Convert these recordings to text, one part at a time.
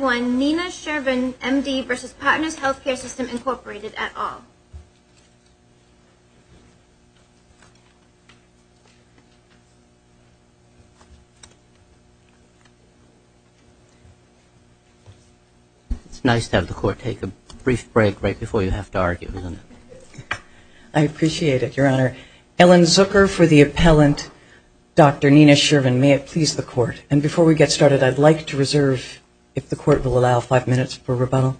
Nina Shervin, M.D. v. Partners Healthcare System, Incorporated, et al. It's nice to have the Court take a brief break right before you have to argue, isn't it? I appreciate it, Your Honor. Ellen Zucker for the appellant, Dr. Nina Shervin. May it please the Court. And before we get started, I'd like to reserve if the Court will allow five minutes for rebuttal.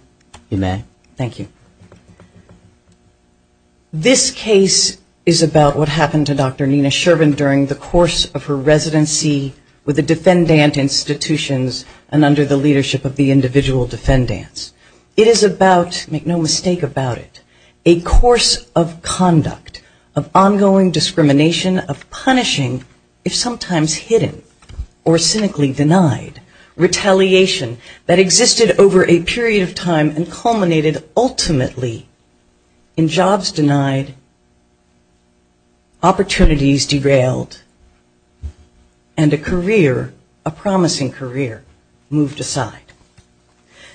This case is about what happened to Dr. Nina Shervin during the course of her residency with the defendant institutions and under the leadership of the individual defendants. It is about, make no mistake about it, a course of conduct, of ongoing discrimination, of punishing, if sometimes hidden, or cynically denied, retaliation that existed over a period of time and culminated ultimately in jobs denied, opportunities derailed, and a career, a promising career, moved aside.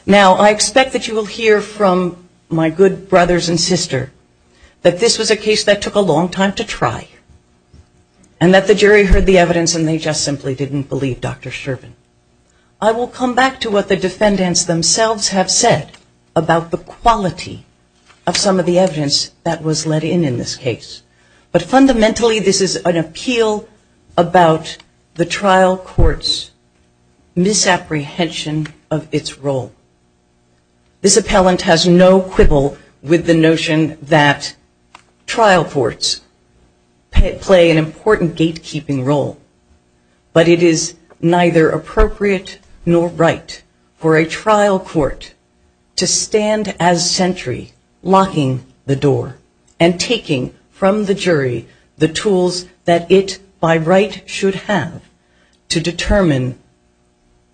Now, I expect that you will hear from my good brothers and sister that this was a case that took a long time to try and that the jury heard the evidence and they just simply didn't believe Dr. Shervin. I will come back to what the defendants themselves have said about the quality of some of the evidence that was let in in this case. But fundamentally this is an appeal about the trial court's misapprehension of its role. This appellant has no quibble with the notion that the jury can play an important gatekeeping role, but it is neither appropriate nor right for a trial court to stand as sentry, locking the door, and taking from the jury the tools that it, by right, should have to determine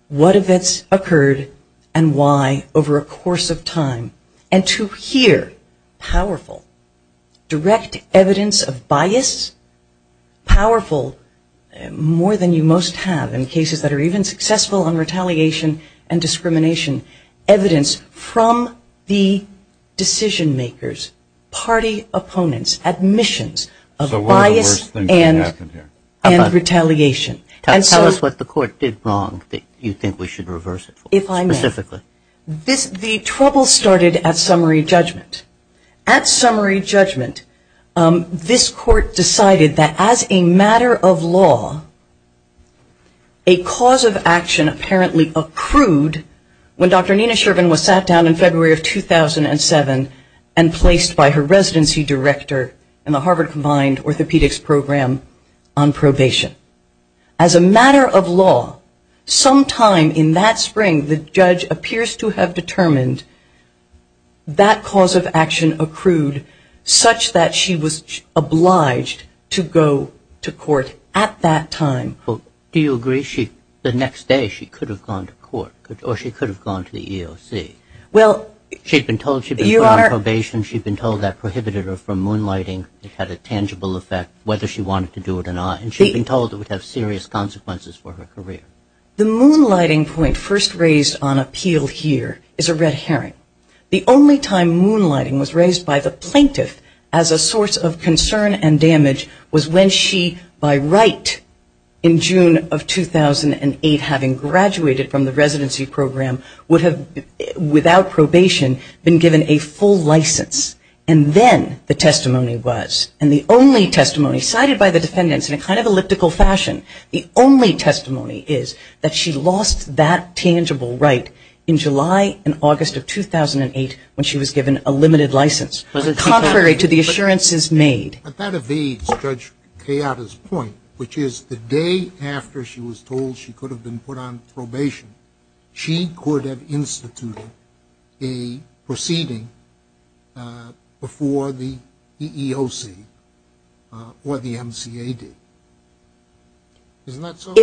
what events occurred and why over a course of time. And to hear powerful direct evidence of bias, powerful more than you most have in cases that are even successful in retaliation and discrimination, evidence from the decision makers, party opponents, admissions of bias and retaliation. Tell us what the court did wrong that you think we should reverse it for, specifically. The trouble started at summary judgment. At summary judgment this court decided that as a matter of law a cause of action apparently accrued when Dr. Nina Shervin was sat down in February of 2007 and placed by her residency director in the Harvard combined orthopedics program on probation. As a matter of law sometime in that spring the judge appears to have determined that cause of action accrued such that she was obliged to go to court at that time. Do you agree she, the next day she could have gone to court, or she could have gone to the EOC? Well, you are... She'd been told she'd been put on probation, she'd been told that prohibited her from moonlighting, it had a tangible effect, whether she wanted to do it or not, and she'd been told it would have serious consequences for her career. The moonlighting point first raised on appeal here is a red herring. The only time moonlighting was raised by the plaintiff as a source of concern and damage was when she, by right, in June of 2008, having graduated from the residency program, would have, without probation, been given a full license. And then the testimony was, and the only testimony cited by the defendants in a kind of elliptical fashion, the only testimony is that she lost that tangible right in July and August of 2008 when she was given a limited license, contrary to the assurances made. But that evades Judge Kayada's point, which is the day after she was told she could have been put on probation, she could have instituted a proceeding before the EEOC or the MCA did. Isn't that so?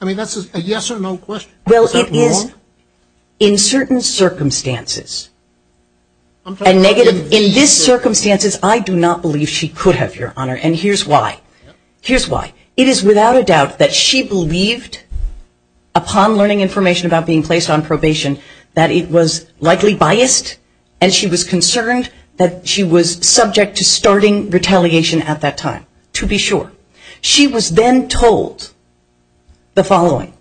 I mean, that's a yes or no question. Well, it is in certain circumstances. In this circumstances, I do not believe she could have, Your Honor, and here's why. Here's why. It is without a doubt that she believed upon learning information about being placed on probation that it was likely biased and she was concerned that she was subject to starting retaliation at that time, to be sure. She was then told the following,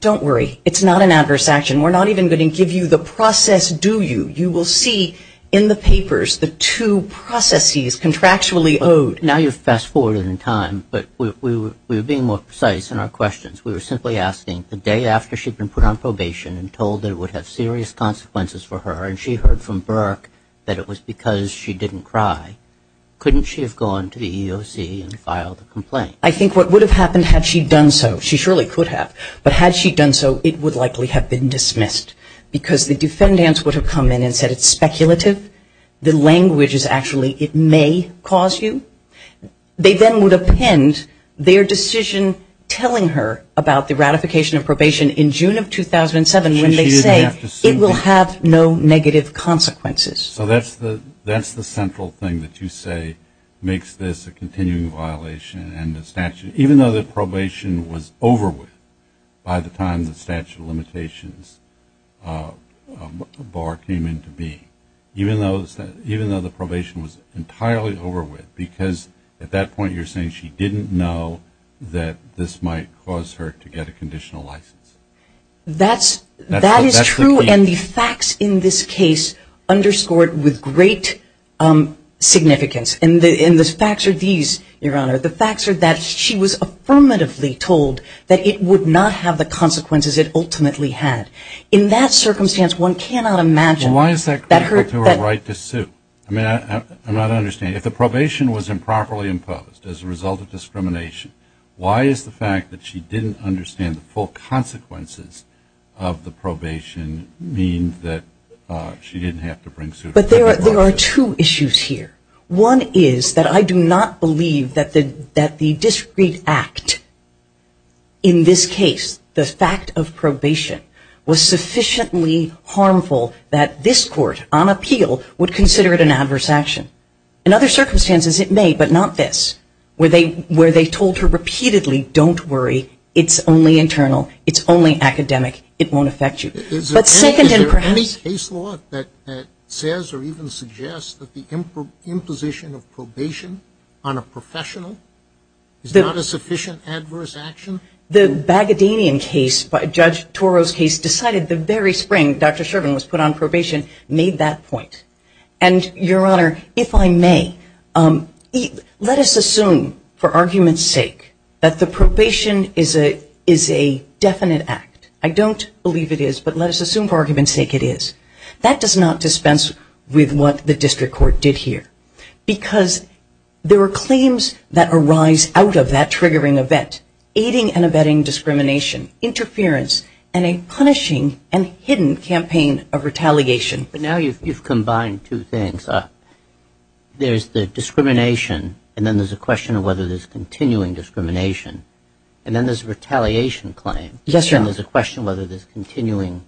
don't worry, it's not an adverse action. We're not even going to give you the process, do you? You will see in the papers the two processes contractually owed. Now you've fast-forwarded in time, but we were being more precise in our questions. We were simply asking the day after she'd been put on probation and told that it would have serious consequences for her and she heard from Burke that it was because she didn't cry, couldn't she have gone to the EEOC and filed a complaint? I think what would have happened had she done so, she surely could have, but had she done so, it would likely have been dismissed because the defendants would have come in and said it's speculative, the language is actually, it may cause you. They then would append their decision telling her about the ratification of probation in June of 2007 when they say it will have no negative consequences. So that's the central thing that you say makes this a continuing violation and the statute, even though the probation was over with by the time the statute of limitations bar came into being, even though the probation was entirely over with because at that point you're saying she didn't know that this might cause her to get a conditional license. That's true and the facts in this case underscored with great significance and the facts are these, Your Honor, the facts are that she was affirmatively told that it would not have the consequences it ultimately had. In that circumstance one cannot imagine... Why is that critical to her right to sue? I'm not understanding. If the probation was improperly imposed as a result of why is the fact that she didn't understand the full consequences of the probation mean that she didn't have to bring suit? But there are two issues here. One is that I do not believe that the discreet act in this case, the fact of probation was sufficiently harmful that this court, on appeal, would consider it an adverse action. In other circumstances it may, but not this, where they told her repeatedly, don't worry, it's only internal, it's only academic, it won't affect you. But second and perhaps... Is there any case law that says or even suggests that the imposition of probation on a professional is not a sufficient adverse action? The Bagadanian case, Judge Toro's case, decided the very spring Dr. Shervin was put on probation, made that point. And, Your Honor, if I may, let us assume, for argument's sake, that the probation is a definite act. I don't believe it is, but let us assume for argument's sake it is. That does not dispense with what the district court did here. Because there were claims that arise out of that triggering event, aiding and abetting discrimination, interference, and a punishing and hidden campaign of retaliation. But now you've combined two things. There's the discrimination, and then there's a question of whether there's continuing discrimination, and then there's a retaliation claim. Yes, Your Honor. And there's a question of whether there's continuing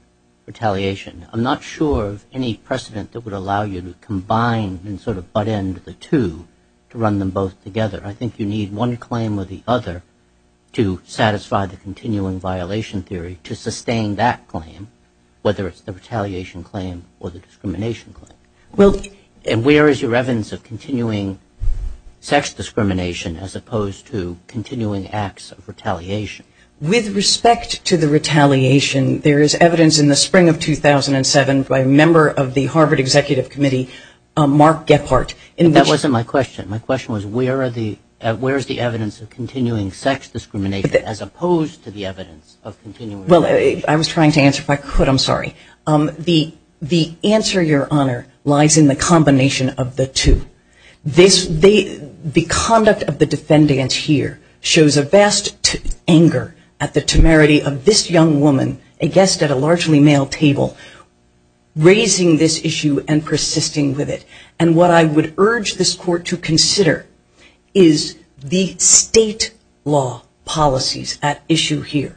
retaliation. I'm not sure of any precedent that would allow you to combine and sort of butt in the two to run them both together. I think you need one claim or the other to satisfy the continuing violation theory to sustain that claim, whether it's the retaliation claim or the discrimination claim. And where is your evidence of continuing sex discrimination as opposed to continuing acts of retaliation? With respect to the retaliation, there is evidence in the spring of 2007 by a member of the Harvard Executive Committee, Mark Gephardt. That wasn't my question. My question was where are the where's the evidence of continuing sex discrimination as opposed to the evidence of continuing retaliation? Well, I was trying to answer if I could, I'm sorry. The answer, Your Honor, lies in the combination of the two. The conduct of the defendants here shows a vast anger at the temerity of this young woman, a guest at a largely male table, raising this issue and persisting with it. And what I would urge this Court to consider is the state law policies at issue here.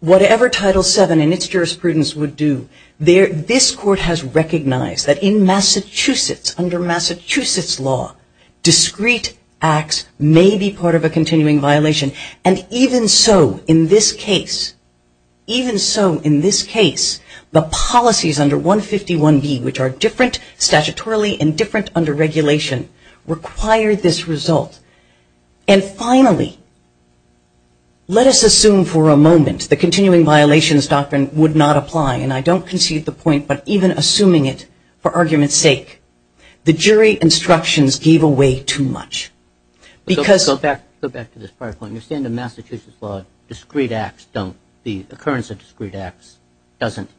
Whatever Title VII and its jurisprudence would do, this Court has recognized that in Massachusetts, under Massachusetts law, discrete acts may be part of a continuing violation. And even so, in this case, even so, in this case, the policies under 151B, which are different statutorily and different under regulation, require this result. And finally, let us assume for a moment the continuing violations doctrine would not apply. And I don't concede the point, but even assuming it, for argument's sake, the jury instructions gave away too much. Because... Go back to this prior point. You're saying in Massachusetts law, discrete acts don't, the occurrence of discrete acts doesn't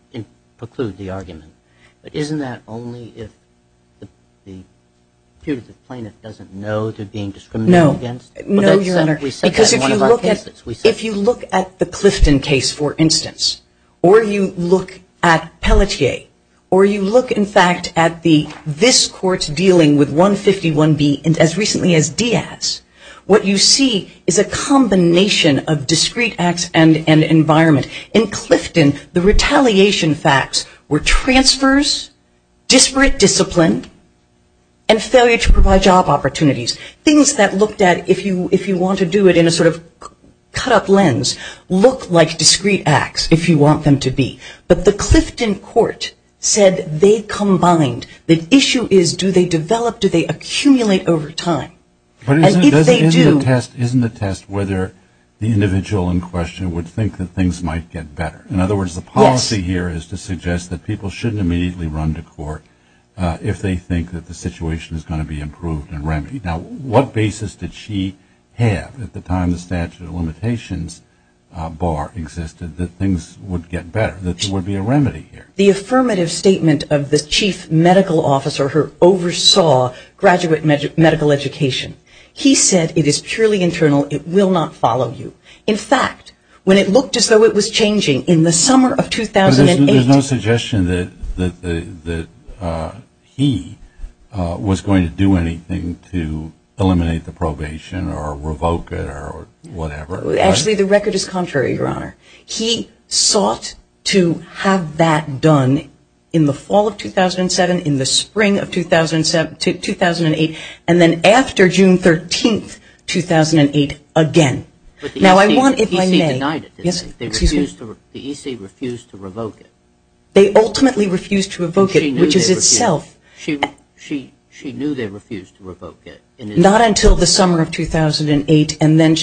preclude the argument. But isn't that only if the Because if you look at the Clifton case, for instance, or you look at Pelletier, or you look, in fact, at this Court dealing with 151B and as recently as Diaz, what you see is a combination of discrete acts and environment. In Clifton, the retaliation facts were transfers, disparate discipline, and failure to provide job opportunities. Things that looked at, if you want to do it in a sort of cut-up lens, look like discrete acts, if you want them to be. But the Clifton court said they combined. The issue is, do they develop, do they accumulate over time? And if they do... But isn't the test whether the individual in question would think that things might get better? In other words, the policy here is to suggest that people shouldn't immediately run to court if they think that the situation is going to be improved and remedied. Now, what basis did she have at the time the statute of limitations bar existed that things would get better, that there would be a remedy here? The affirmative statement of the chief medical officer who oversaw graduate medical education. He said, it is purely internal, it will not follow you. In fact, when it looked as though it was changing in the summer of 2008... There's no suggestion that he was going to do anything to eliminate the probation or revoke it or whatever? Actually, the record is contrary, your honor. He sought to have that done in the fall of 2007, in the spring of 2008, and then after June 13, 2008, again. But the EC denied it, didn't they? The EC refused to revoke it. They ultimately refused to revoke it, which is itself... She knew they refused to revoke it. Not until the summer of 2008, and then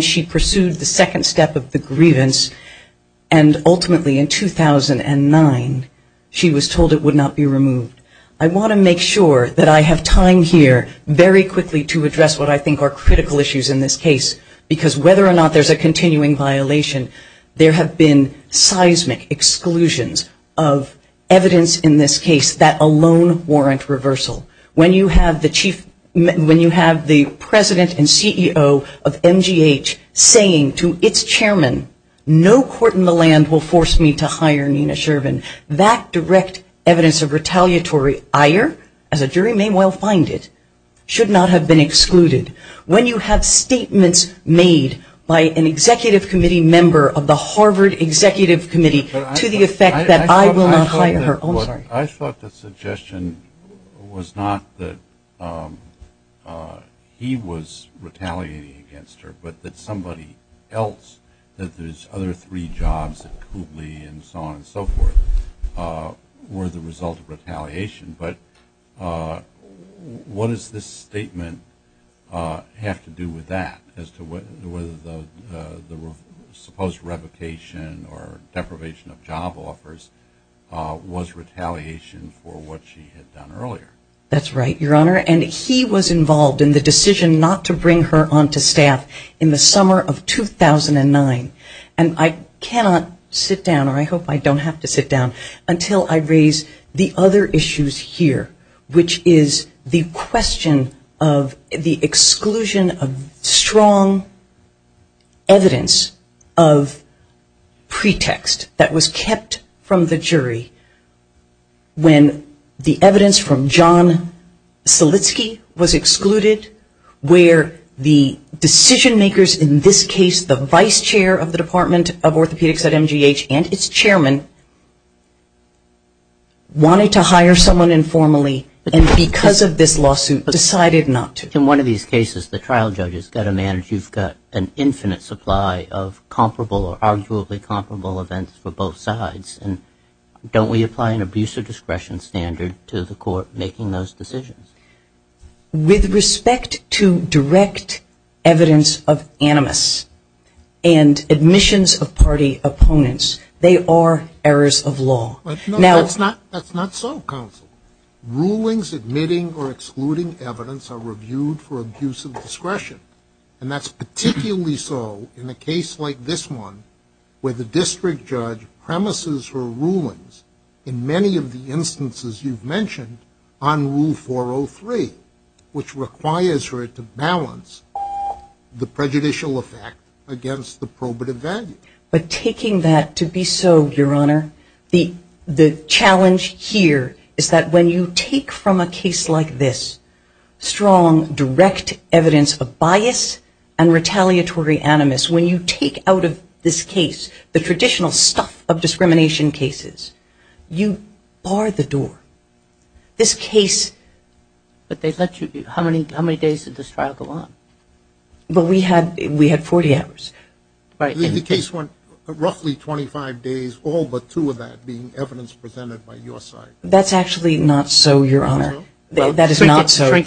she pursued the second step of the grievance, and ultimately in 2009, she was told it would not be removed. I want to make sure that I have time here very quickly to address what I have to say, because whether or not there's a continuing violation, there have been seismic exclusions of evidence in this case that alone warrant reversal. When you have the chief, when you have the president and CEO of MGH saying to its chairman, no court in the land will force me to hire Nina Shervin, that direct evidence of retaliatory ire, as a jury may well find it, should not have been excluded. When you have statements made by an executive committee member of the Harvard Executive Committee to the effect that I will not hire her... I thought the suggestion was not that he was retaliating against her, but that somebody else, that there's other three jobs at Kubli and so on and so forth, were the result of retaliation. But what does this statement have to do with that, as to whether the supposed revocation or deprivation of job offers was retaliation for what she had done earlier? That's right, Your Honor, and he was involved in the decision not to bring her on to staff in the summer of 2009. And I cannot sit down, or I hope I don't have to sit down, until I raise the other issues here, which is the question of the exclusion of strong evidence of pretext that was kept from the jury when the evidence from John Selitsky was excluded, where the decision makers, in this case the vice chair of the Department of Justice, wanted to hire someone informally, and because of this lawsuit decided not to. In one of these cases, the trial judge has got to manage, you've got an infinite supply of comparable or arguably comparable events for both sides. Don't we apply an abuse of discretion standard to the court making those decisions? With respect to direct evidence of animus and admissions of party opponents, they are errors of law. That's not so, counsel. Rulings admitting or excluding evidence are reviewed for abuse of discretion, and that's particularly so in a case like this one, where the district judge premises her rulings in many of the instances you've mentioned on Rule 403, which requires her to balance the prejudicial effect against the probative value. But taking that to be so, your honor, the challenge here is that when you take from a case like this, strong, direct evidence of bias and retaliatory animus, when you take out of this case the traditional stuff of discrimination cases, you bar the door. This case... But they let you... How many days did this trial go on? Well, we had forty hours. The case went roughly twenty-five days, all but two of that being evidence presented by your side. That's actually not so, your honor. That is not so. You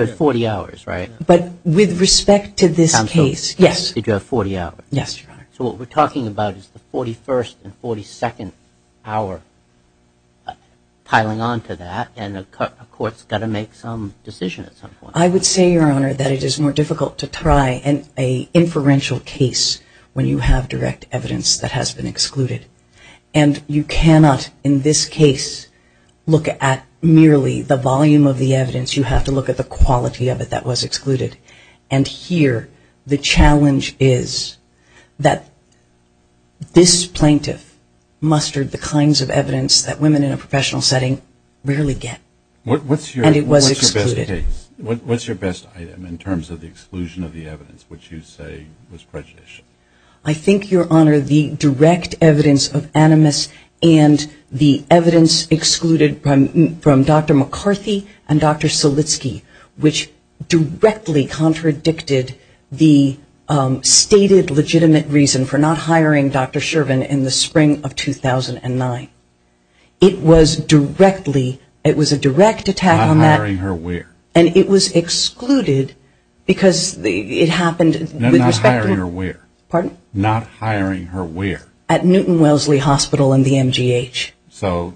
had forty hours, right? But with respect to this case, yes. Did you have forty hours? Yes, your honor. So what we're talking about is the forty-first and forty-second hour piling onto that, and a court's got to make some decision at some point. I would say, your honor, that it is more difficult to try an inferential case when you have direct evidence that has been excluded. And you cannot, in this case, look at merely the volume of the evidence. You have to look at the quality of it that was excluded. And here the challenge is that this plaintiff mustered the kinds of evidence that women in a professional setting rarely get. And it was excluded. What's your best item in terms of the exclusion of the evidence which you say was prejudicial? I think, your honor, the direct evidence of animus and the evidence excluded from Dr. McCarthy and Dr. Selitsky, which directly contradicted the stated legitimate reason for not hiring Dr. Shervin in the spring of 2009. It was directly, it was a direct attack on that. Not hiring her where? And it was excluded because it happened with respect to... Not hiring her where? Pardon? Not hiring her where? At Newton Wellesley Hospital and the MGH. So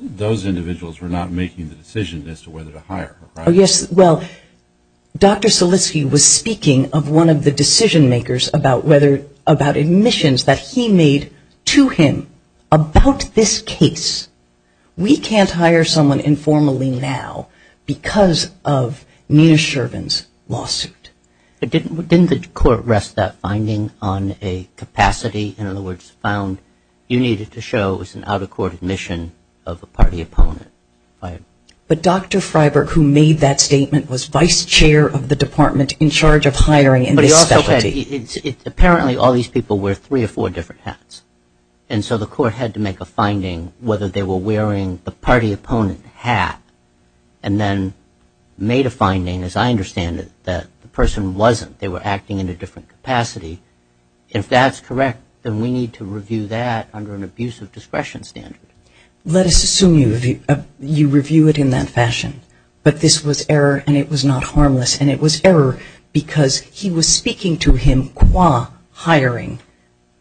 those individuals were not making the decision as to whether to hire her, right? Oh yes, well, Dr. Selitsky was speaking of one of the decision makers about whether, about admissions that he made to him about this case. We can't hire someone informally now because of Nina Shervin's lawsuit. But didn't the court rest that finding on a capacity, in other words, found you needed to show it was an out-of-court admission of a party opponent? But Dr. Freiberg, who made that statement, was vice chair of the department in charge of hiring in this specialty. But he also said, apparently all these people wear three or four different hats. And so the court had to make a finding whether they were wearing the party opponent hat. And then made a finding, as I understand it, that the person wasn't. They were acting in a different capacity. If that's correct, then we need to review that under an abuse of discretion standard. Let us assume you review it in that fashion. But this was error and it was not harmless. And it was error because he was speaking to him qua hiring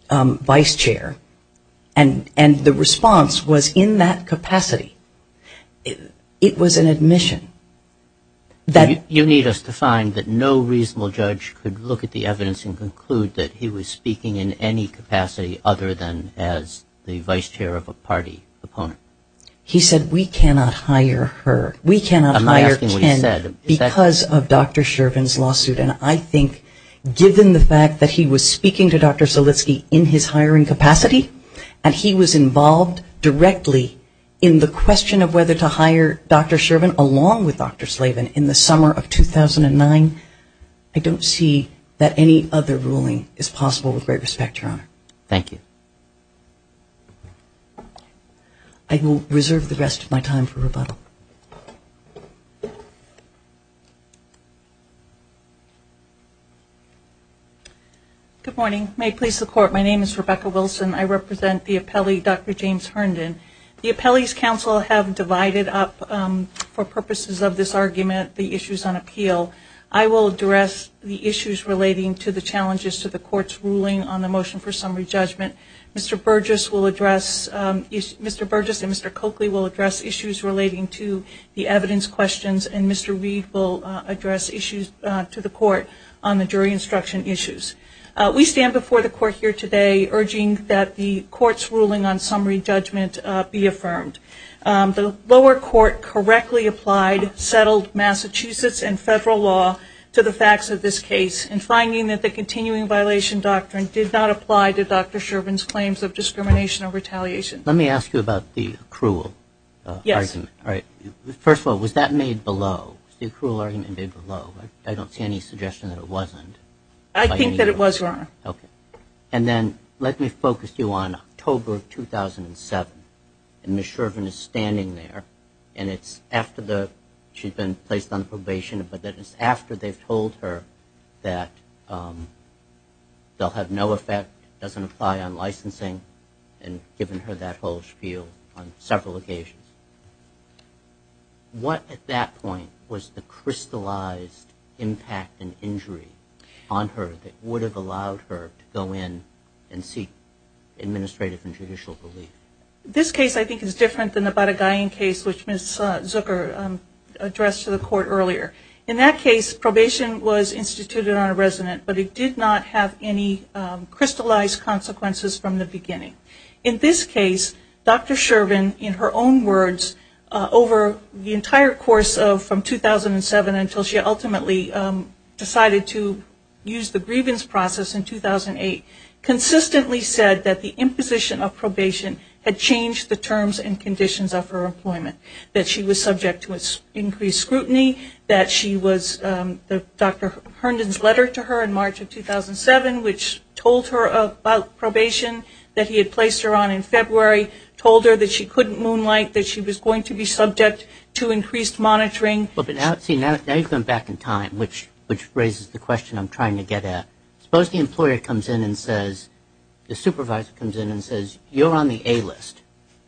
vice chair. And the response was in that capacity. It was an admission. You need us to find that no reasonable judge could look at the evidence and conclude that he was speaking in any capacity other than as the vice chair of a party opponent. He said we cannot hire her. We cannot hire Ken because of Dr. Shervin's lawsuit. And I think given the fact that he was speaking to Dr. Silitsky in his hiring capacity and he was involved directly in the question of whether to hire Dr. Shervin along with Dr. Slavin in the summer of 2009, I don't see Good morning. May it please the court, my name is Rebecca Wilson. I represent the appellee Dr. James Herndon. The appellee's counsel have divided up for purposes of this argument the issues on appeal. I will address the issues relating to the challenges to the court's ruling on the motion for summary judgment. Mr. Burgess will address, Mr. Burgess and Mr. Coakley will address issues relating to the evidence questions and Mr. Reed will address issues to the jury instruction issues. We stand before the court here today urging that the court's ruling on summary judgment be affirmed. The lower court correctly applied settled Massachusetts and federal law to the facts of this case in finding that the continuing violation doctrine did not apply to Dr. Shervin's claims of discrimination or retaliation. Let me ask you about the accrual argument. First of all, was that made below? The accrual argument made below. I don't see any suggestion that it wasn't. I think that it was, Your Honor. And then let me focus you on October 2007. And Ms. Shervin is standing there and it's after the she's been placed on probation but that it's after they've told her that they'll have no effect, doesn't apply on licensing and given her that whole spiel on several occasions. What at that point was the crystallized impact and injury on her that would have allowed her to go in and seek administrative and judicial relief? This case I think is different than the Baragayan case which Ms. Zucker addressed to the court earlier. In that case probation was instituted on a resident but it did not have any crystallized consequences from the beginning. In this case Dr. Shervin in her own words over the entire course of from 2007 until she ultimately decided to use the grievance process in 2008 consistently said that the imposition of probation had changed the terms and conditions of her employment. That she was subject to increased scrutiny, that she was Dr. Herndon's letter to her in March of 2007 which told her about probation that he had placed her on in February, told her that she couldn't moonlight, that she was going to be subject to increased monitoring. But see now you've gone back in time which raises the question I'm trying to get at. Suppose the employer comes in and says the supervisor comes in and says you're on the A list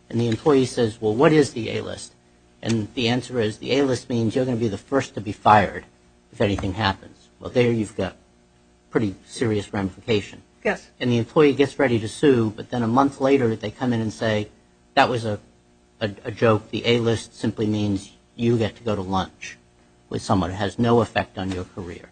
and the employee says well what is the A list? And the answer is the A list means you're going to be the first to be fired if anything happens. Well there you've got pretty serious ramification. Yes. And the employee gets ready to sue but then a month later they come in and say that was a joke, the A list simply means you get to go to lunch with someone who has no effect on your career.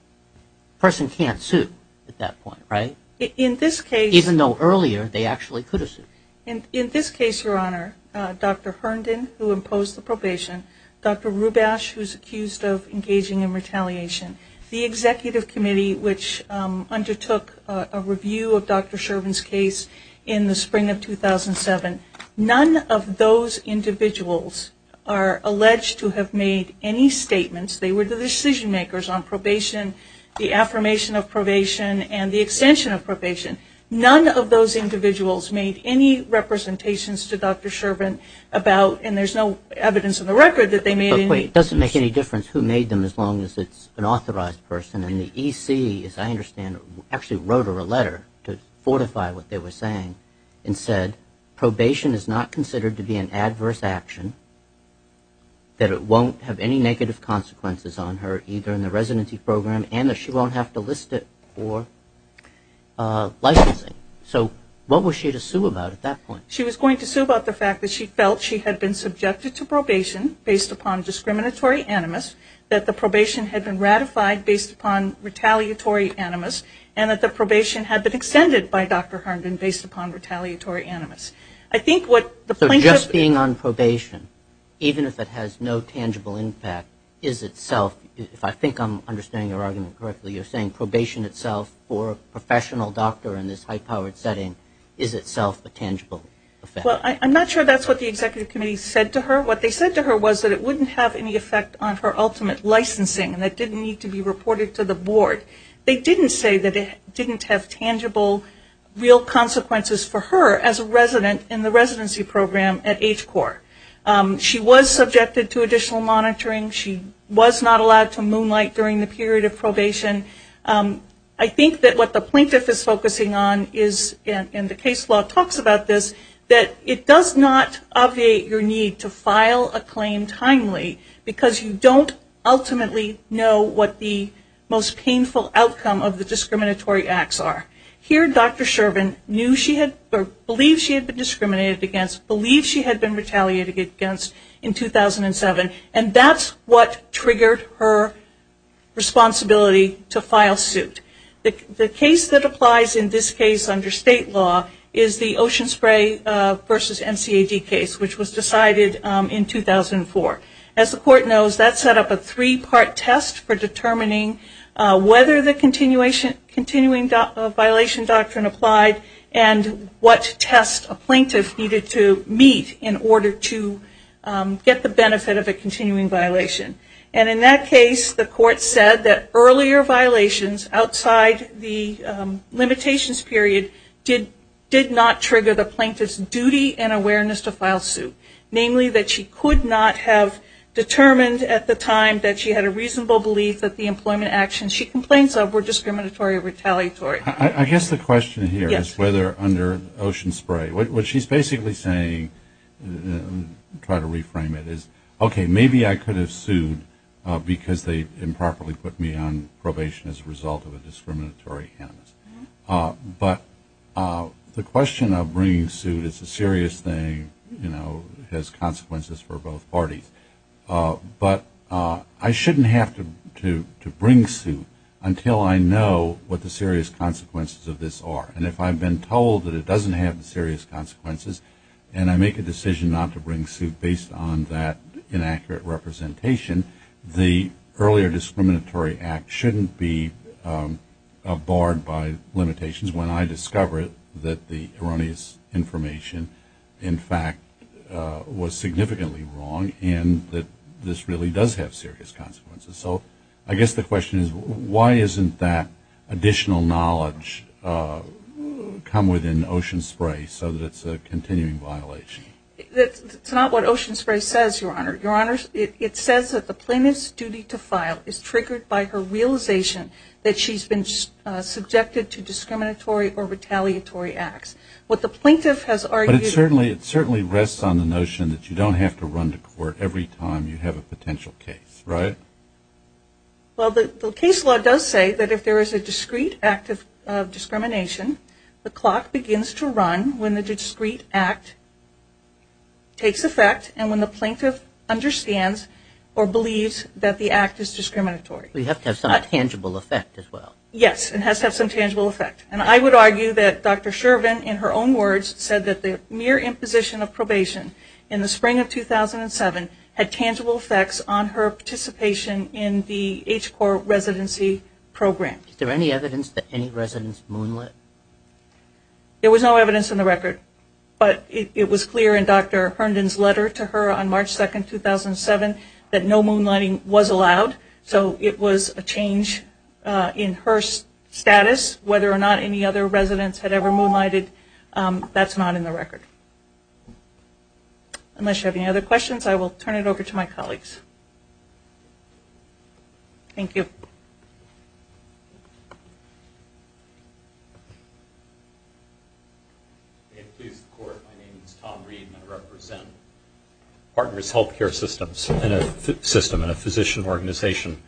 A person can't sue at that point, right? In this case... Even though earlier they actually could have sued. In this case, Your Honor, Dr. Herndon who imposed the probation, Dr. Rubash who's accused of engaging in retaliation, the executive committee which reviewed Dr. Shervin's case in the spring of 2007, none of those individuals are alleged to have made any statements. They were the decision makers on probation, the affirmation of probation, and the extension of probation. None of those individuals made any representations to Dr. Shervin about, and there's no evidence in the record that they made any... But wait, it doesn't make any difference who made them as long as it's an authorized person and the EC, as I understand, actually wrote her a letter to fortify what they were saying and said, probation is not considered to be an adverse action, that it won't have any negative consequences on her either in the residency program and that she won't have to list it for licensing. So, what was she to sue about at that point? She was going to sue about the fact that she felt she had been subjected to probation based upon discriminatory animus, that the probation had been ratified based upon retaliatory animus, and that the probation had been extended by Dr. Herndon based upon retaliatory animus. I think what the plaintiff... So, just being on probation, even if it has no tangible impact, is itself, if I think I'm understanding your argument correctly, you're saying probation itself for a professional doctor in this high-powered setting is itself a tangible effect? Well, I'm not sure that's what the executive committee said to her. What they said to her was that it wouldn't have any effect on her ultimate licensing and that it didn't need to be reported to the board. They didn't say that it didn't have tangible, real consequences for her as a resident in the residency program at HCOR. She was subjected to additional monitoring. She was not allowed to moonlight during the period of probation. I think that what the plaintiff is focusing on is, and the case law talks about this, that it does not obviate your need to file a claim timely because you don't ultimately know what the most painful outcome of the discriminatory acts are. Here, Dr. Shervin knew she had, or believed she had been discriminated against, believed she had been retaliated against in 2007, and that's what triggered her responsibility to file suit. The case that applies in this case under state law is the Ocean Spray versus NCAG case, which was decided in 2004. As the court knows, that set up a three-part test for determining whether the continuing violation doctrine applied and what test a plaintiff needed to meet in order to get the benefit of a continuing violation. And in that case, the court said that earlier violations outside the limitations period did not trigger the plaintiff's duty and awareness to file suit, namely that she could not have determined at the time that she had a reasonable belief that the employment actions she complains of were discriminatory or retaliatory. I guess the question here is whether under Ocean Spray, what she's basically saying, try to reframe it, is, okay, maybe I could have sued because they improperly put me on probation as a result of a discriminatory act. But the question of bringing suit is a serious thing, and has consequences for both parties. But I shouldn't have to bring suit until I know what the serious consequences of this are. And if I've been told that it doesn't have the serious consequences and I make a decision not to bring suit based on that inaccurate representation, the earlier discriminatory act shouldn't be barred by limitations when I discover that the erroneous information, in fact, was significantly wrong and that this really does have serious consequences. So I guess the question is, why isn't that additional knowledge come within Ocean Spray so that it's a continuing violation? It's not what Ocean Spray says, Your Honor. It says that the plaintiff's duty to file is triggered by her realization that she's been subjected to discriminatory or retaliatory acts. What the plaintiff has argued... But it certainly rests on the notion that you don't have to run to court every time you have a potential case, right? Well, the case law does say that if there is a discreet act of discrimination, the clock begins to run when the discreet act takes effect and when the plaintiff understands or believes that the act is discriminatory. We have to have some tangible effect as well. Yes, it has to have some tangible effect. And I would argue that Dr. Shervin, in her own words, said that the mere imposition of probation in the spring of 2007 had tangible effects on her participation in the H-Corps residency program. Is there any evidence that any residents moonlit? There was no evidence on the record, but it was clear in Dr. Herndon's letter to her on March 2, 2007, that no moonlighting was allowed. So it was a change in her status. Whether or not any other residents had ever moonlighted, that's not in the record. Unless you have any other questions, I will turn it over to my colleagues. Thank you. May it please the Court, my name is Tom Reed and I represent Partners Healthcare Systems, a system and a physician organization.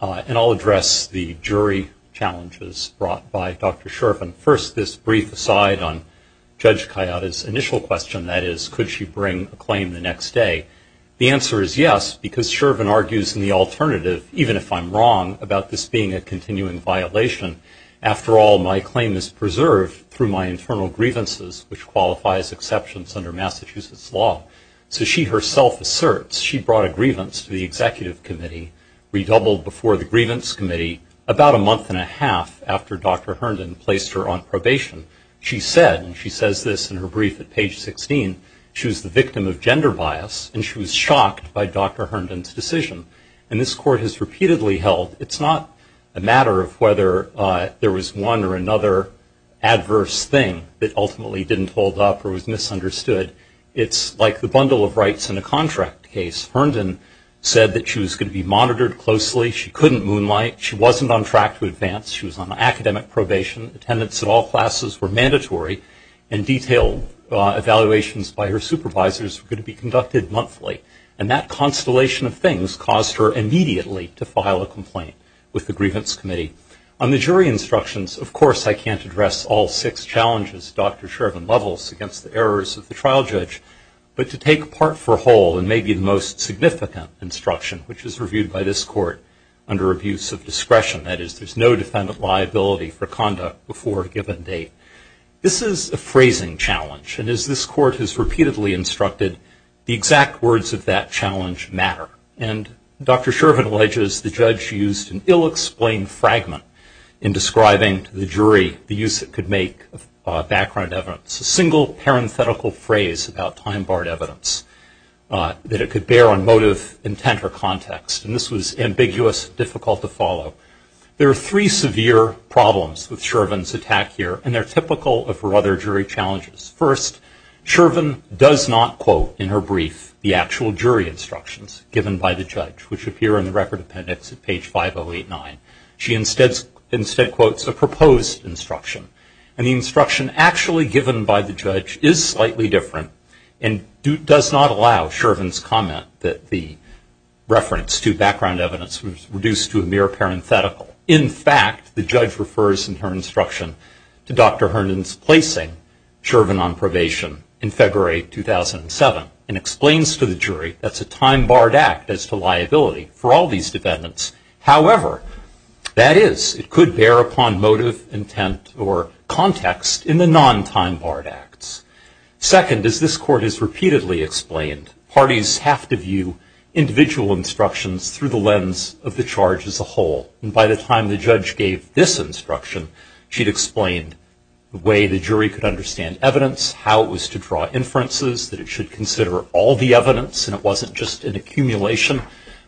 And I'll address the jury challenges brought by Dr. Shervin. First, this brief aside on Judge Kayada's initial question, that is, could she bring a claim the next day? The answer is yes, because Shervin argues in the alternative, even if I'm wrong about this being a continuing violation. After all, my claim is preserved through my internal grievances, which qualifies exceptions under Massachusetts law. So she herself asserts she brought a grievance to the executive committee, redoubled before the grievance committee about a month and a half after Dr. Herndon placed her on probation. She said, and she says this in her brief at page 16, she was the victim of gender bias and she was shocked by Dr. Herndon's decision. And this Court has repeatedly held it's not a matter of whether there was one or another adverse thing that ultimately didn't hold up or was misunderstood. It's like the bundle of rights in a contract case. Herndon said that she was going to be monitored closely. She couldn't moonlight. She wasn't on track to advance. She was on academic probation. Attendance in all classes were mandatory and detailed evaluations by her supervisors were going to be conducted monthly. And that constellation of things caused her immediately to file a complaint with the grievance committee. On the jury instructions, of course, I can't address all six challenges Dr. Shervin levels against the errors of the trial judge, but to take part for whole in maybe the most significant instruction, which is reviewed by this Court under abuse of discretion. That is, there's no defendant liability for conduct before a given date. This is a phrasing challenge. And as this Court has repeatedly instructed, the exact words of that challenge matter. And Dr. Shervin alleges the judge used an ill-explained fragment in describing to the jury the use it could make of background evidence, a single parenthetical phrase about time-barred evidence, that it could bear on motive, intent, or context. And this was ambiguous, difficult to follow. There are three severe problems with Shervin's attack here, and they're typical of her other jury challenges. First, Shervin does not quote in her brief the actual jury instructions given by the judge, which appear in the record appendix at page 5089. She instead quotes a proposed instruction. And the instruction actually given by the judge is slightly different and does not allow Shervin's comment that the reference to background evidence was reduced to a mere parenthetical. In fact, the judge refers, in her instruction, to Dr. Herndon's placing Shervin on probation in February 2007 and explains to the jury that's a time-barred act as to liability for all these defendants. However, that is, it could bear upon motive, intent, or context in the non-time-barred acts. Second, as this Court has repeatedly explained, parties have to view individual instructions through the lens of the charge as a whole. And by the time the judge gave this instruction, she'd explained the way the jury could understand evidence, how it was to draw inferences, that it should consider all the evidence, and it wasn't just an accumulation,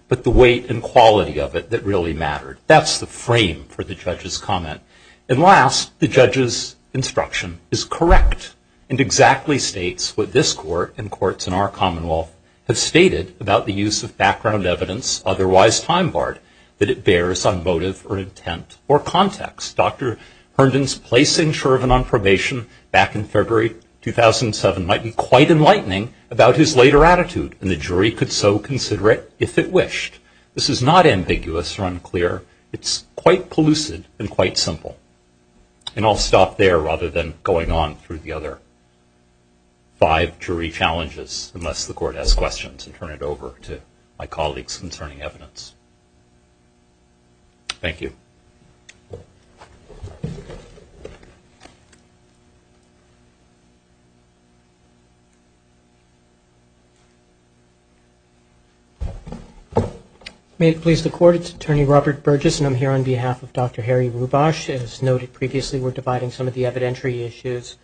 but the weight and quality of it that really mattered. That's the frame for the judge's comment. And last, the judge's instruction is correct and exactly states what this Court and courts in our commonwealth have stated about the use of background evidence, otherwise time-barred, that it bears on motive or intent or context. Dr. Herndon's placing Shervin on probation back in February 2007 might be quite enlightening about his later attitude, and the jury could so consider it if it wished. This is not ambiguous or unclear. It's quite pellucid and quite simple. And I'll stop there rather than going on through the other five jury challenges, unless the Court has questions, and turn it over to my colleagues concerning evidence. Thank you. May it please the Court, it's Attorney Robert Burgess, and I'm here on behalf of Dr. Harry Rubash. As noted previously, we're dividing some of the evidentiary issues.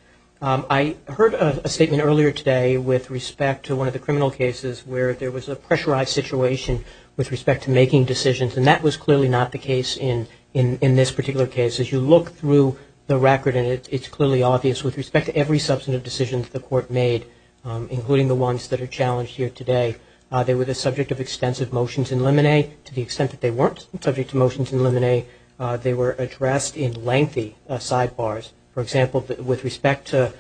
I heard a statement earlier today with respect to one of the criminal cases where there was a pressurized situation with respect to making decisions, and that was clearly not the case in this particular case. As you look through the record, it's clearly obvious with respect to every substantive decision the Court made, including the ones that are challenged here today, they were the subject of extensive motions in limine. To the extent that they weren't subject to motions in limine, they were addressed in lengthy sidebars. For example, with respect to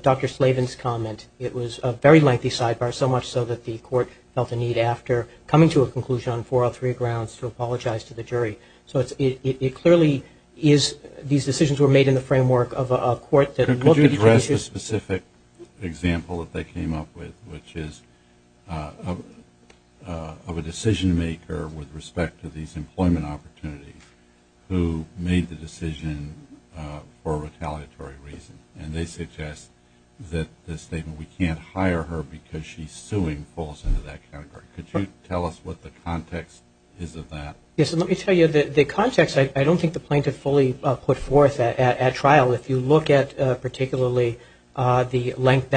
Dr. Slavin's comment, it was a very lengthy sidebar, so much so that the Court felt the need after coming to a conclusion on four or three grounds to apologize to the jury. So it clearly is these decisions were made in the framework of a court that looked at the issues. Could you address the specific example that they came up with, which is of a decision maker with respect to these employment opportunities who made the decision for a retaliatory reason? And they suggest that the statement, we can't hire her because she's suing falls into that category. Could you tell us what the context is of that? Yes, and let me tell you, the context, I don't think the plaintiff fully put forth at trial. If you look at particularly that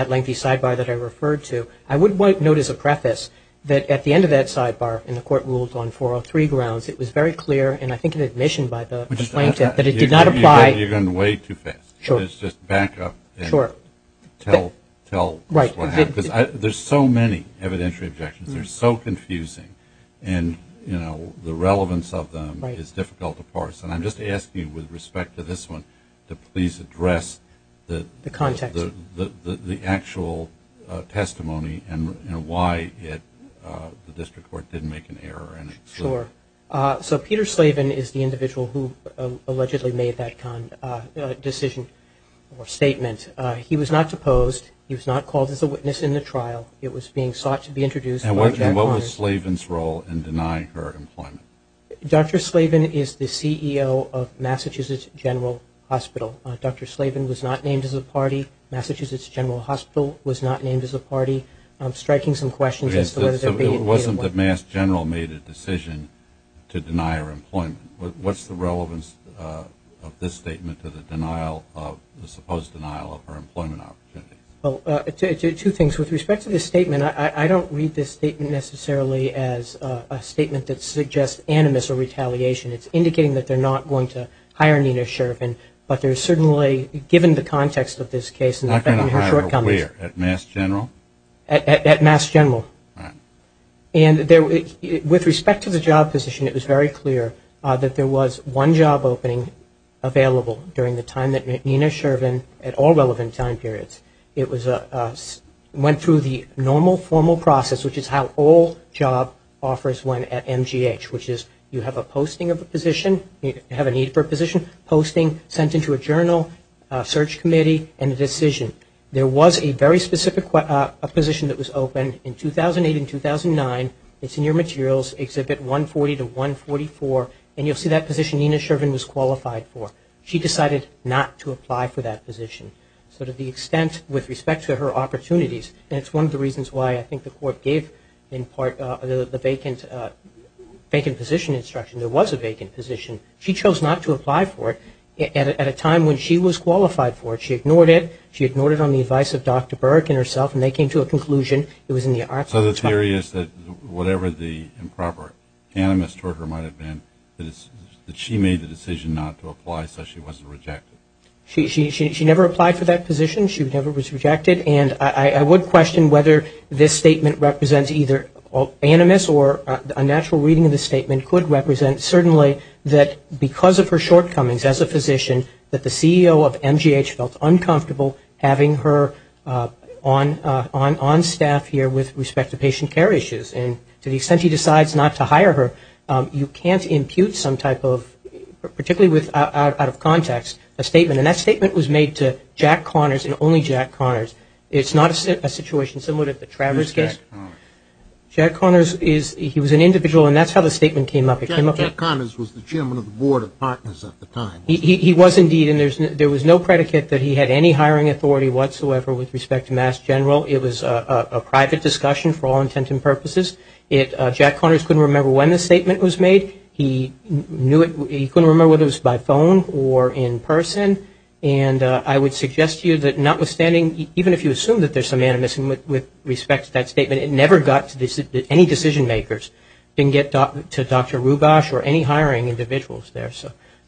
lengthy sidebar that I referred to, I would note as a preface that at the end of that sidebar, and the Court ruled on four or three grounds, it was very clear, and I think in admission by the plaintiff, that it did not apply. You're going way too fast. Sure. Let's just back up. Sure. Tell us what happened. Right. Because there's so many evidentiary objections. They're so confusing. And, you know, the relevance of them is difficult to parse. And I'm just asking you, with respect to this one, to please address the actual testimony and why the District Court didn't make an error. Sure. So Peter Slaven is the individual who allegedly made that decision or statement. He was not deposed. He was not called as a witness in the trial. It was being sought to be introduced. And what was Slaven's role in denying her employment? Dr. Slaven is the CEO of Massachusetts General Hospital. Dr. Slaven was not named as a party. Massachusetts General Hospital was not named as a party. I'm striking some questions as to whether there may have been. It wasn't that Mass General made a decision to deny her employment. What's the relevance of this statement to the denial of, the supposed denial of her employment opportunity? Well, two things. With respect to this statement, I don't read this statement necessarily as a statement that suggests animus or retaliation. It's indicating that they're not going to hire Nina Sheriff. But there's certainly, given the context of this case. Not going to hire her where? At Mass General? At Mass General. Right. And with respect to the job position, it was very clear that there was one job opening available during the time that Nina Sheriff, at all relevant time periods, went through the normal formal process, which is how all job offers went at MGH, which is you have a posting of a position, you have a need for a position, posting, sent into a journal, search committee, and a decision. There was a very specific position that was open in 2008 and 2009. It's in your materials, Exhibit 140 to 144, and you'll see that position Nina Sheriff was qualified for. She decided not to apply for that position. So to the extent, with respect to her opportunities, and it's one of the reasons why I think the court gave in part the vacant position instruction, there was a vacant position. She chose not to apply for it at a time when she was qualified for it. She ignored it. She ignored it on the advice of Dr. Burke and herself, and they came to a conclusion it was in the arts. So the theory is that whatever the improper animus toward her might have been, that she made the decision not to apply so she wasn't rejected. She never applied for that position. She never was rejected. And I would question whether this statement represents either animus or a natural reading of the statement could represent certainly that because of her shortcomings as a physician that the CEO of MGH felt uncomfortable having her on staff here with respect to patient care issues. And to the extent he decides not to hire her, you can't impute some type of, particularly out of context, a statement. And that statement was made to Jack Connors and only Jack Connors. It's not a situation similar to the Travers case. Who's Jack Connors? Jack Connors, he was an individual, and that's how the statement came up. Jack Connors was the chairman of the board of partners at the time. He was indeed. And there was no predicate that he had any hiring authority whatsoever with respect to Mass General. It was a private discussion for all intent and purposes. Jack Connors couldn't remember when the statement was made. He knew it. He couldn't remember whether it was by phone or in person. And I would suggest to you that notwithstanding, even if you assume that there's some animus with respect to that statement, it never got to any decision makers. It didn't get to Dr. Rubash or any hiring individuals there.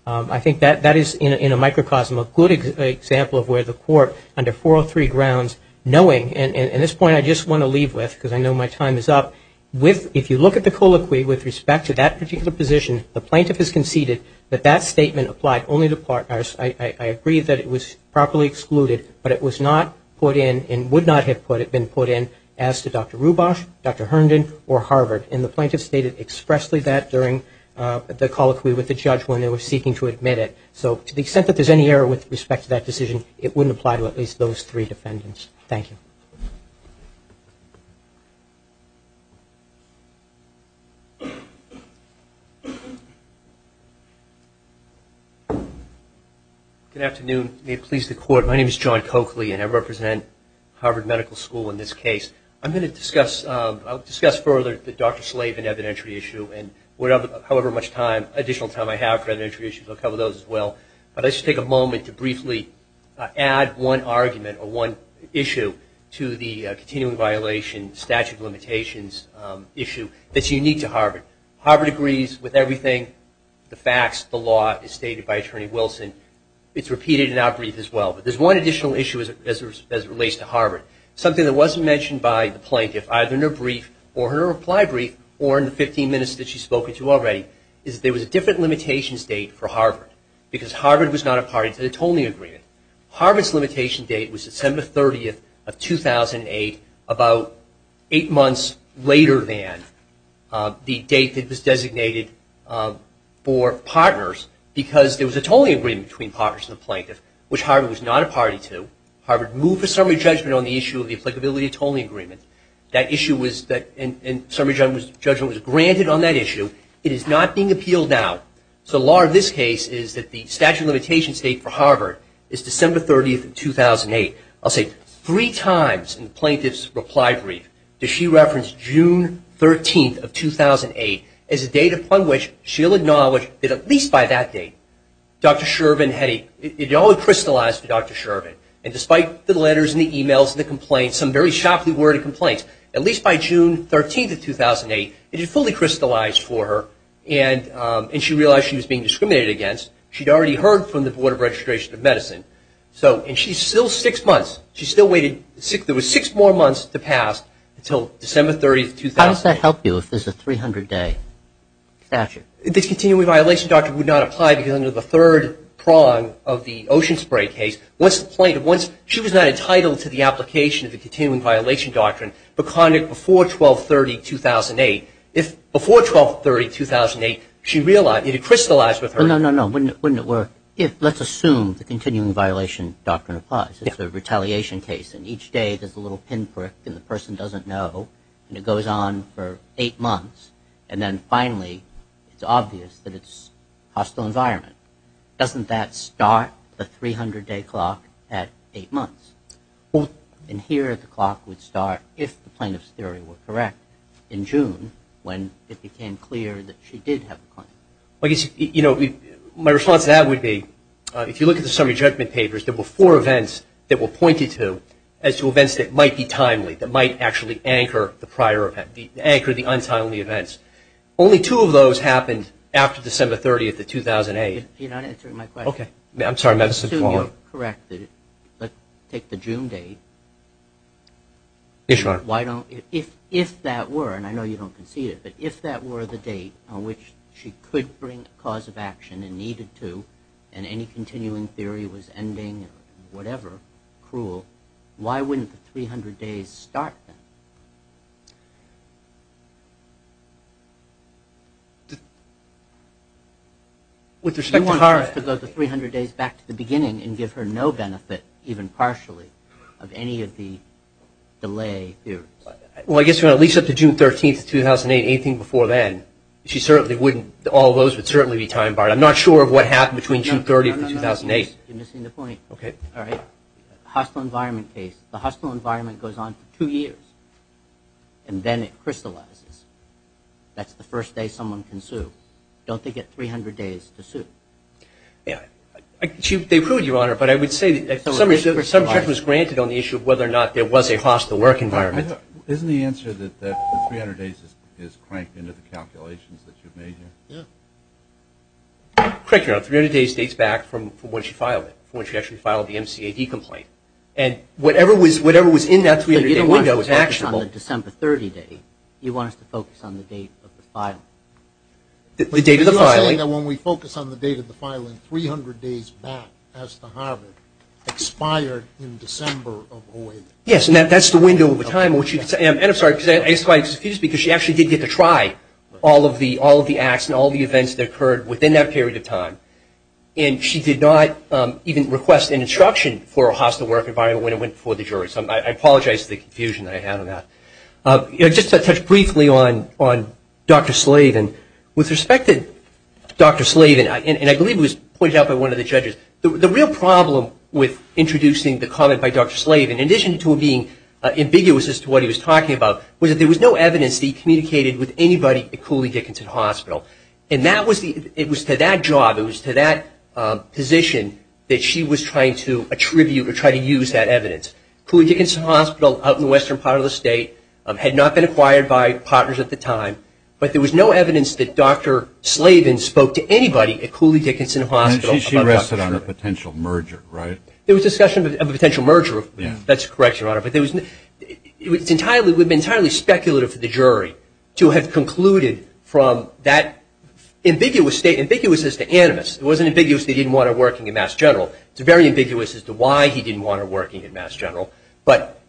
I think that is, in a microcosm, a good example of where the court, under 403 grounds, knowing, and this point I just want to leave with because I know my time is up, if you look at the colloquy with respect to that particular position, the plaintiff has conceded that that statement applied only to partners. I agree that it was properly excluded, but it was not put in and would not have been put in as to Dr. Rubash, Dr. Herndon, or Harvard. And the plaintiff stated expressly that during the colloquy with the judge when they were seeking to admit it. So to the extent that there's any error with respect to that decision, it wouldn't apply to at least those three defendants. Thank you. Good afternoon. May it please the court, my name is John Coakley, and I represent Harvard Medical School in this case. I'm going to discuss, I'll discuss further the Dr. Slavin evidentiary issue and however much time, additional time I have for evidentiary issues, I'll cover those as well. But I should take a moment to briefly add one argument or one issue to the continuing violation statute of limitations issue that's unique to Harvard. Harvard agrees with everything, the facts, the law, as stated by Attorney Wilson. It's repeated in our brief as well. But there's one additional issue as it relates to Harvard. Something that wasn't mentioned by the plaintiff, either in her brief or her reply brief, or in the 15 minutes that she's spoken to already, is there was a different limitations date for Harvard because Harvard was not a party to the Tolling Agreement. Harvard's limitation date was December 30th of 2008, about eight months later than the date that was designated for partners because there was a Tolling Agreement between partners and the plaintiff, which Harvard was not a party to. Harvard moved a summary judgment on the issue of the applicability of Tolling Agreements. That issue was granted on that issue. It is not being appealed now. So the law in this case is that the statute of limitations date for Harvard is December 30th of 2008. I'll say three times in the plaintiff's reply brief does she reference June 13th of 2008 as a date upon which she'll acknowledge that at least by that date, Dr. Shervin Heddy, it all crystallized to Dr. Shervin. And despite the letters and the e-mails and the complaints, some very sharply worded complaints, at least by June 13th of 2008, it had fully crystallized for her, and she realized she was being discriminated against. She'd already heard from the Board of Registration of Medicine. And she's still six months. She still waited. There were six more months to pass until December 30th of 2008. How does that help you if there's a 300-day statute? The continuing violation doctrine would not apply because under the third prong of the Ocean Spray case, once the plaintiff, once she was not entitled to the application of the continuing violation doctrine before 12-30-2008, before 12-30-2008, she realized it had crystallized with her. No, no, no. Wouldn't it work if let's assume the continuing violation doctrine applies. It's a retaliation case, and each day there's a little pinprick, and the person doesn't know, and it goes on for eight months, and then finally it's obvious that it's hostile environment. Doesn't that start the 300-day clock at eight months? Well, in here the clock would start if the plaintiff's theory were correct in June when it became clear that she did have a claim. You know, my response to that would be if you look at the summary judgment papers, there were four events that were pointed to as two events that might be timely, that might actually anchor the prior event, anchor the untimely events. Only two of those happened after December 30th of 2008. You're not answering my question. Okay. I'm sorry. Let's assume you're correct. Let's take the June date. Yes, Your Honor. If that were, and I know you don't concede it, but if that were the date on which she could bring a cause of action and needed to and any continuing theory was ending or whatever, cruel, why wouldn't the 300 days start then? With respect to her… You want us to go to 300 days back to the beginning and give her no benefit, even partially, of any of the delay theories? Well, I guess at least up to June 13th of 2008, anything before then, she certainly wouldn't, all those would certainly be time-barred. I'm not sure of what happened between June 30th and 2008. You're missing the point. Okay. Hostile environment case, the hostile environment goes on for two years and then it crystallizes. That's the first day someone can sue. Don't they get 300 days to sue? They proved, Your Honor, but I would say some judgment was granted on the issue of whether or not there was a hostile work environment. Isn't the answer that the 300 days is cranked into the calculations that you've made here? Yeah. Correct, Your Honor. 300 days dates back from when she filed it, when she actually filed the MCAD complaint. And whatever was in that 300-day window was actionable. You don't want us to focus on the December 30th. You want us to focus on the date of the filing. The date of the filing. You're not saying that when we focus on the date of the filing, 300 days back as to Harvard expired in December of 2008. Yes, and that's the window of time. And I'm sorry, I guess why it's confused, because she actually did get to try all of the acts and all the events that occurred within that period of time. And she did not even request an instruction for a hostile work environment when it went before the jury. So I apologize for the confusion that I had on that. Just to touch briefly on Dr. Slavin, with respect to Dr. Slavin, and I believe it was pointed out by one of the judges, the real problem with introducing the comment by Dr. Slavin, in addition to him being ambiguous as to what he was talking about, was that there was no evidence that he communicated with anybody at Cooley Dickinson Hospital. And it was to that job, it was to that position, that she was trying to attribute or try to use that evidence. Cooley Dickinson Hospital out in the western part of the state had not been acquired by partners at the time, but there was no evidence that Dr. Slavin spoke to anybody at Cooley Dickinson Hospital about Dr. Slavin. And she rested on a potential merger, right? There was discussion of a potential merger. That's correct, Your Honor. But it would have been entirely speculative for the jury to have concluded from that ambiguous state, ambiguous as to animus. It wasn't ambiguous that he didn't want her working at Mass General. It's very ambiguous as to why he didn't want her working at Mass General. But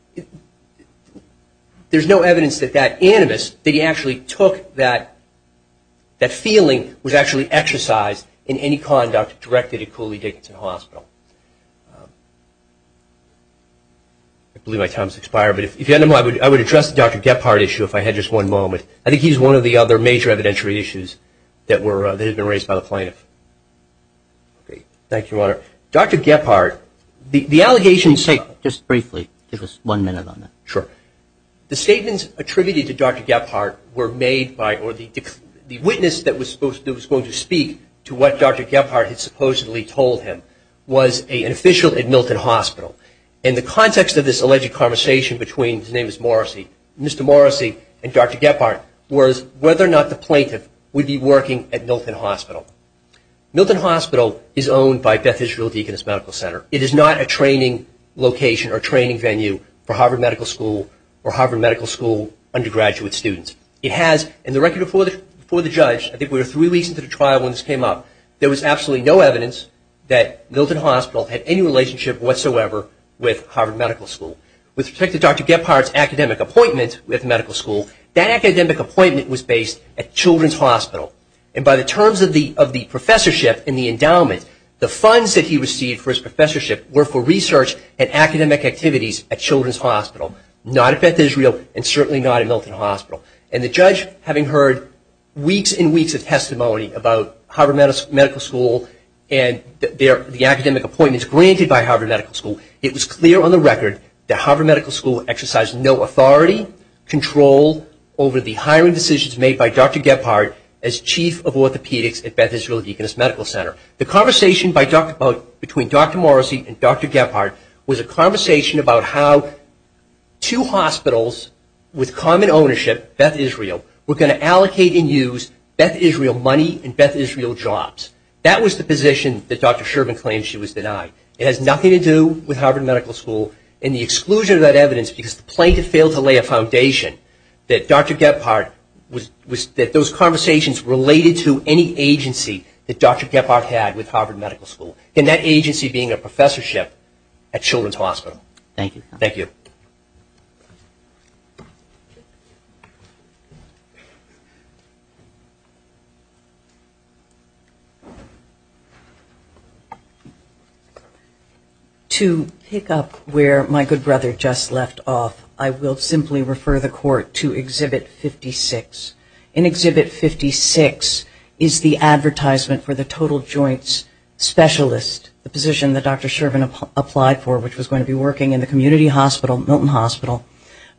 there's no evidence that that animus, that he actually took that feeling, was actually exercised in any conduct directed at Cooley Dickinson Hospital. I believe my time has expired. But if you don't mind, I would address the Dr. Gephardt issue if I had just one moment. I think he's one of the other major evidentiary issues that had been raised by the plaintiff. Thank you, Your Honor. Dr. Gephardt, the allegations... Just briefly, just one minute on that. Sure. The statements attributed to Dr. Gephardt were made by or the witness that was going to speak to what Dr. Gephardt had supposedly told him was an official at Milton Hospital. And the context of this alleged conversation between, his name is Morrissey, Mr. Morrissey and Dr. Gephardt, was whether or not the plaintiff would be working at Milton Hospital. Milton Hospital is owned by Beth Israel Deaconess Medical Center. It is not a training location or training venue for Harvard Medical School or Harvard Medical School undergraduate students. It has, and the record before the judge, I think we were three weeks into the trial when this came up, there was absolutely no evidence that Milton Hospital had any relationship whatsoever with Harvard Medical School. With respect to Dr. Gephardt's academic appointment with medical school, that academic appointment was based at Children's Hospital. And by the terms of the professorship and the endowment, the funds that he received for his professorship were for research and academic activities at Children's Hospital, not at Beth Israel and certainly not at Milton Hospital. And the judge, having heard weeks and weeks of testimony about Harvard Medical School and the academic appointments granted by Harvard Medical School, it was clear on the record that Harvard Medical School exercised no authority, control over the hiring decisions made by Dr. Gephardt as chief of orthopedics at Beth Israel Deaconess Medical Center. The conversation between Dr. Morrissey and Dr. Gephardt was a conversation about how two hospitals with common ownership, Beth Israel, were going to allocate and use Beth Israel money and Beth Israel jobs. That was the position that Dr. Sherman claimed she was denied. It has nothing to do with Harvard Medical School and the exclusion of that evidence because the plaintiff failed to lay a foundation that Dr. Gephardt, that those conversations related to any agency that Dr. Gephardt had with Harvard Medical School. And that agency being a professorship at Children's Hospital. Thank you. Thank you. To pick up where my good brother just left off, I will simply refer the court to Exhibit 56. In Exhibit 56 is the advertisement for the total joints specialist, the position that Dr. Sherman applied for, which was going to be working in the community hospital, Milton Hospital,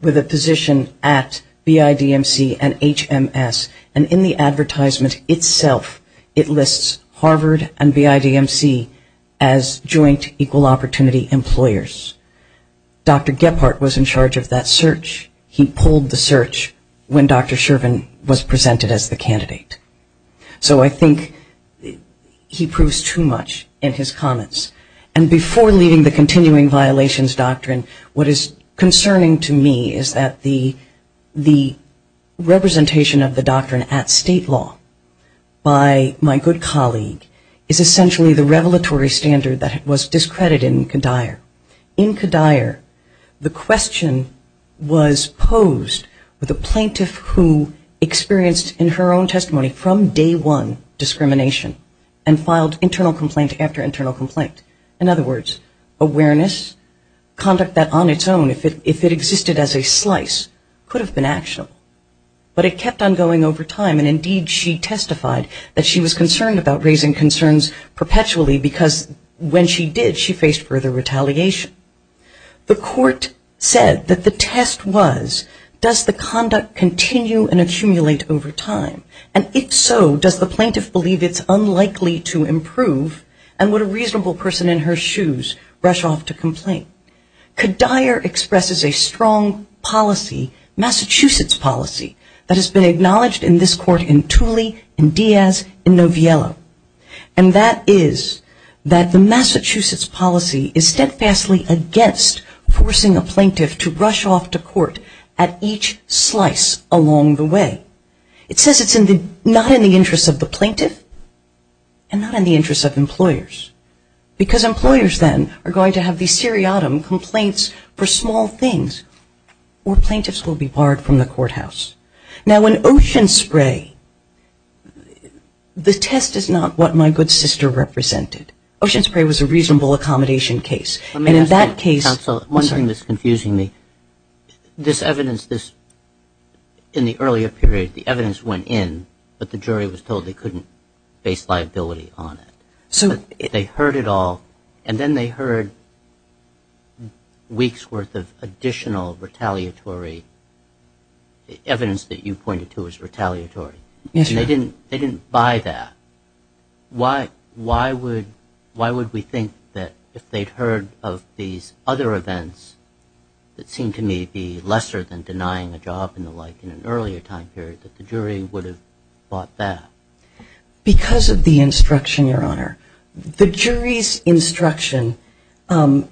with a position at BIDMC and HMS. And in the advertisement itself, it lists Harvard and BIDMC as joint equal opportunity employers. Dr. Gephardt was in charge of that search. He pulled the search when Dr. Sherman was presented as the candidate. So I think he proves too much in his comments. And before leaving the continuing violations doctrine, what is concerning to me is that the representation of the doctrine at state law by my good colleague is essentially the revelatory standard that was discredited in Kadair. In Kadair, the question was posed with a plaintiff who experienced in her own testimony from day one discrimination and filed internal complaint after internal complaint. In other words, awareness, conduct that on its own, if it existed as a slice, could have been actionable. But it kept on going over time. And indeed, she testified that she was concerned about raising concerns perpetually because when she did, she faced further retaliation. The court said that the test was, does the conduct continue and accumulate over time? And if so, does the plaintiff believe it's unlikely to improve? And would a reasonable person in her shoes rush off to complain? Kadair expresses a strong policy, Massachusetts policy, that has been acknowledged in this court in Tooley, in Diaz, in Noviello. And that is that the Massachusetts policy is steadfastly against forcing a plaintiff to rush off to court at each slice along the way. It says it's not in the interest of the plaintiff and not in the interest of employers. Because employers then are going to have these seriatim complaints for small things or plaintiffs will be barred from the courthouse. Now, in Ocean Spray, the test is not what my good sister represented. Ocean Spray was a reasonable accommodation case. And in that case ‑‑ Let me ask you, counsel, one thing that's confusing me. This evidence, this, in the earlier period, the evidence went in, but the jury was told they couldn't base liability on it. So they heard it all. And then they heard weeks' worth of additional retaliatory evidence that you pointed to as retaliatory. Yes. They didn't buy that. Why would we think that if they'd heard of these other events that seemed to me to be lesser than denying a job and the like in an earlier time period that the jury would have bought that? Because of the instruction, Your Honor. The jury's instruction was,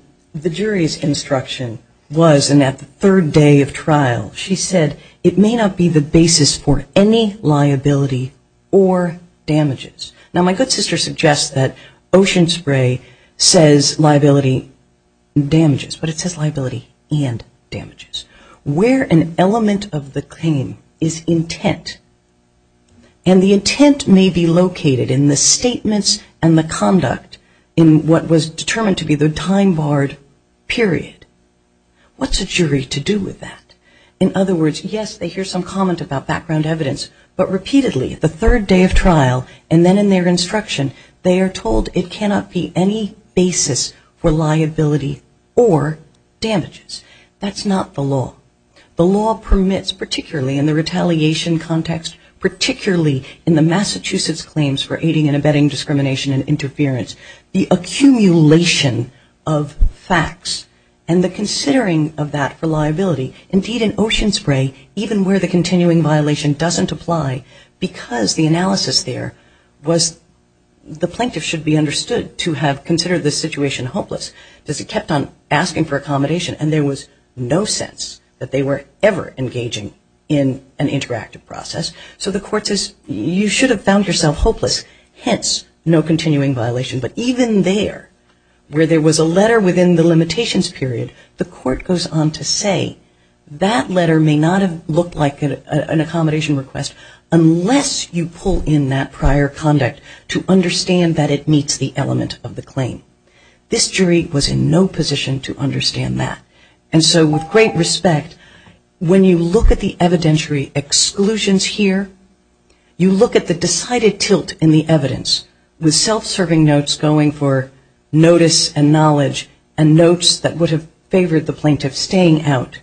and at the third day of trial, she said it may not be the basis for any liability or damages. Now, my good sister suggests that Ocean Spray says liability and damages, but it says liability and damages. Where an element of the claim is intent and the intent may be located in the statements and the conduct in what was determined to be the time barred period. What's a jury to do with that? In other words, yes, they hear some comment about background evidence, but repeatedly, the third day of trial, and then in their instruction, they are told it cannot be any basis for liability or damages. That's not the law. The law permits, particularly in the retaliation context, particularly in the Massachusetts claims for aiding and abetting discrimination and interference, the accumulation of facts and the considering of that for liability. Indeed, in Ocean Spray, even where the continuing violation doesn't apply, because the analysis there was the plaintiff should be understood to have considered the situation hopeless, because he kept on asking for accommodation and there was no sense that they were ever engaging in an interactive process. So the court says you should have found yourself hopeless, hence no continuing violation. But even there, where there was a letter within the limitations period, the court goes on to say that letter may not have looked like an accommodation request unless you pull in that prior conduct to understand that it meets the element of the claim. This jury was in no position to understand that. And so with great respect, when you look at the evidentiary exclusions here, you look at the decided tilt in the evidence, with self-serving notes going for notice and knowledge and notes that would have favored the plaintiff staying out.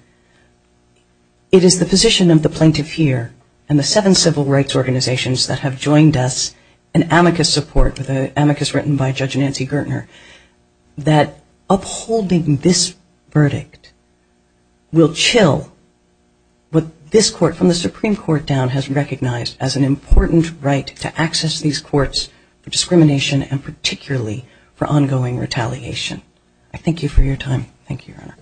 It is the position of the plaintiff here and the seven civil rights organizations that have joined us in amicus support, with an amicus written by Judge Nancy Gertner, that upholding this verdict will chill what this court, from the Supreme Court down, has recognized as an important right to access these courts for discrimination and particularly for ongoing retaliation. Thank you, Your Honor.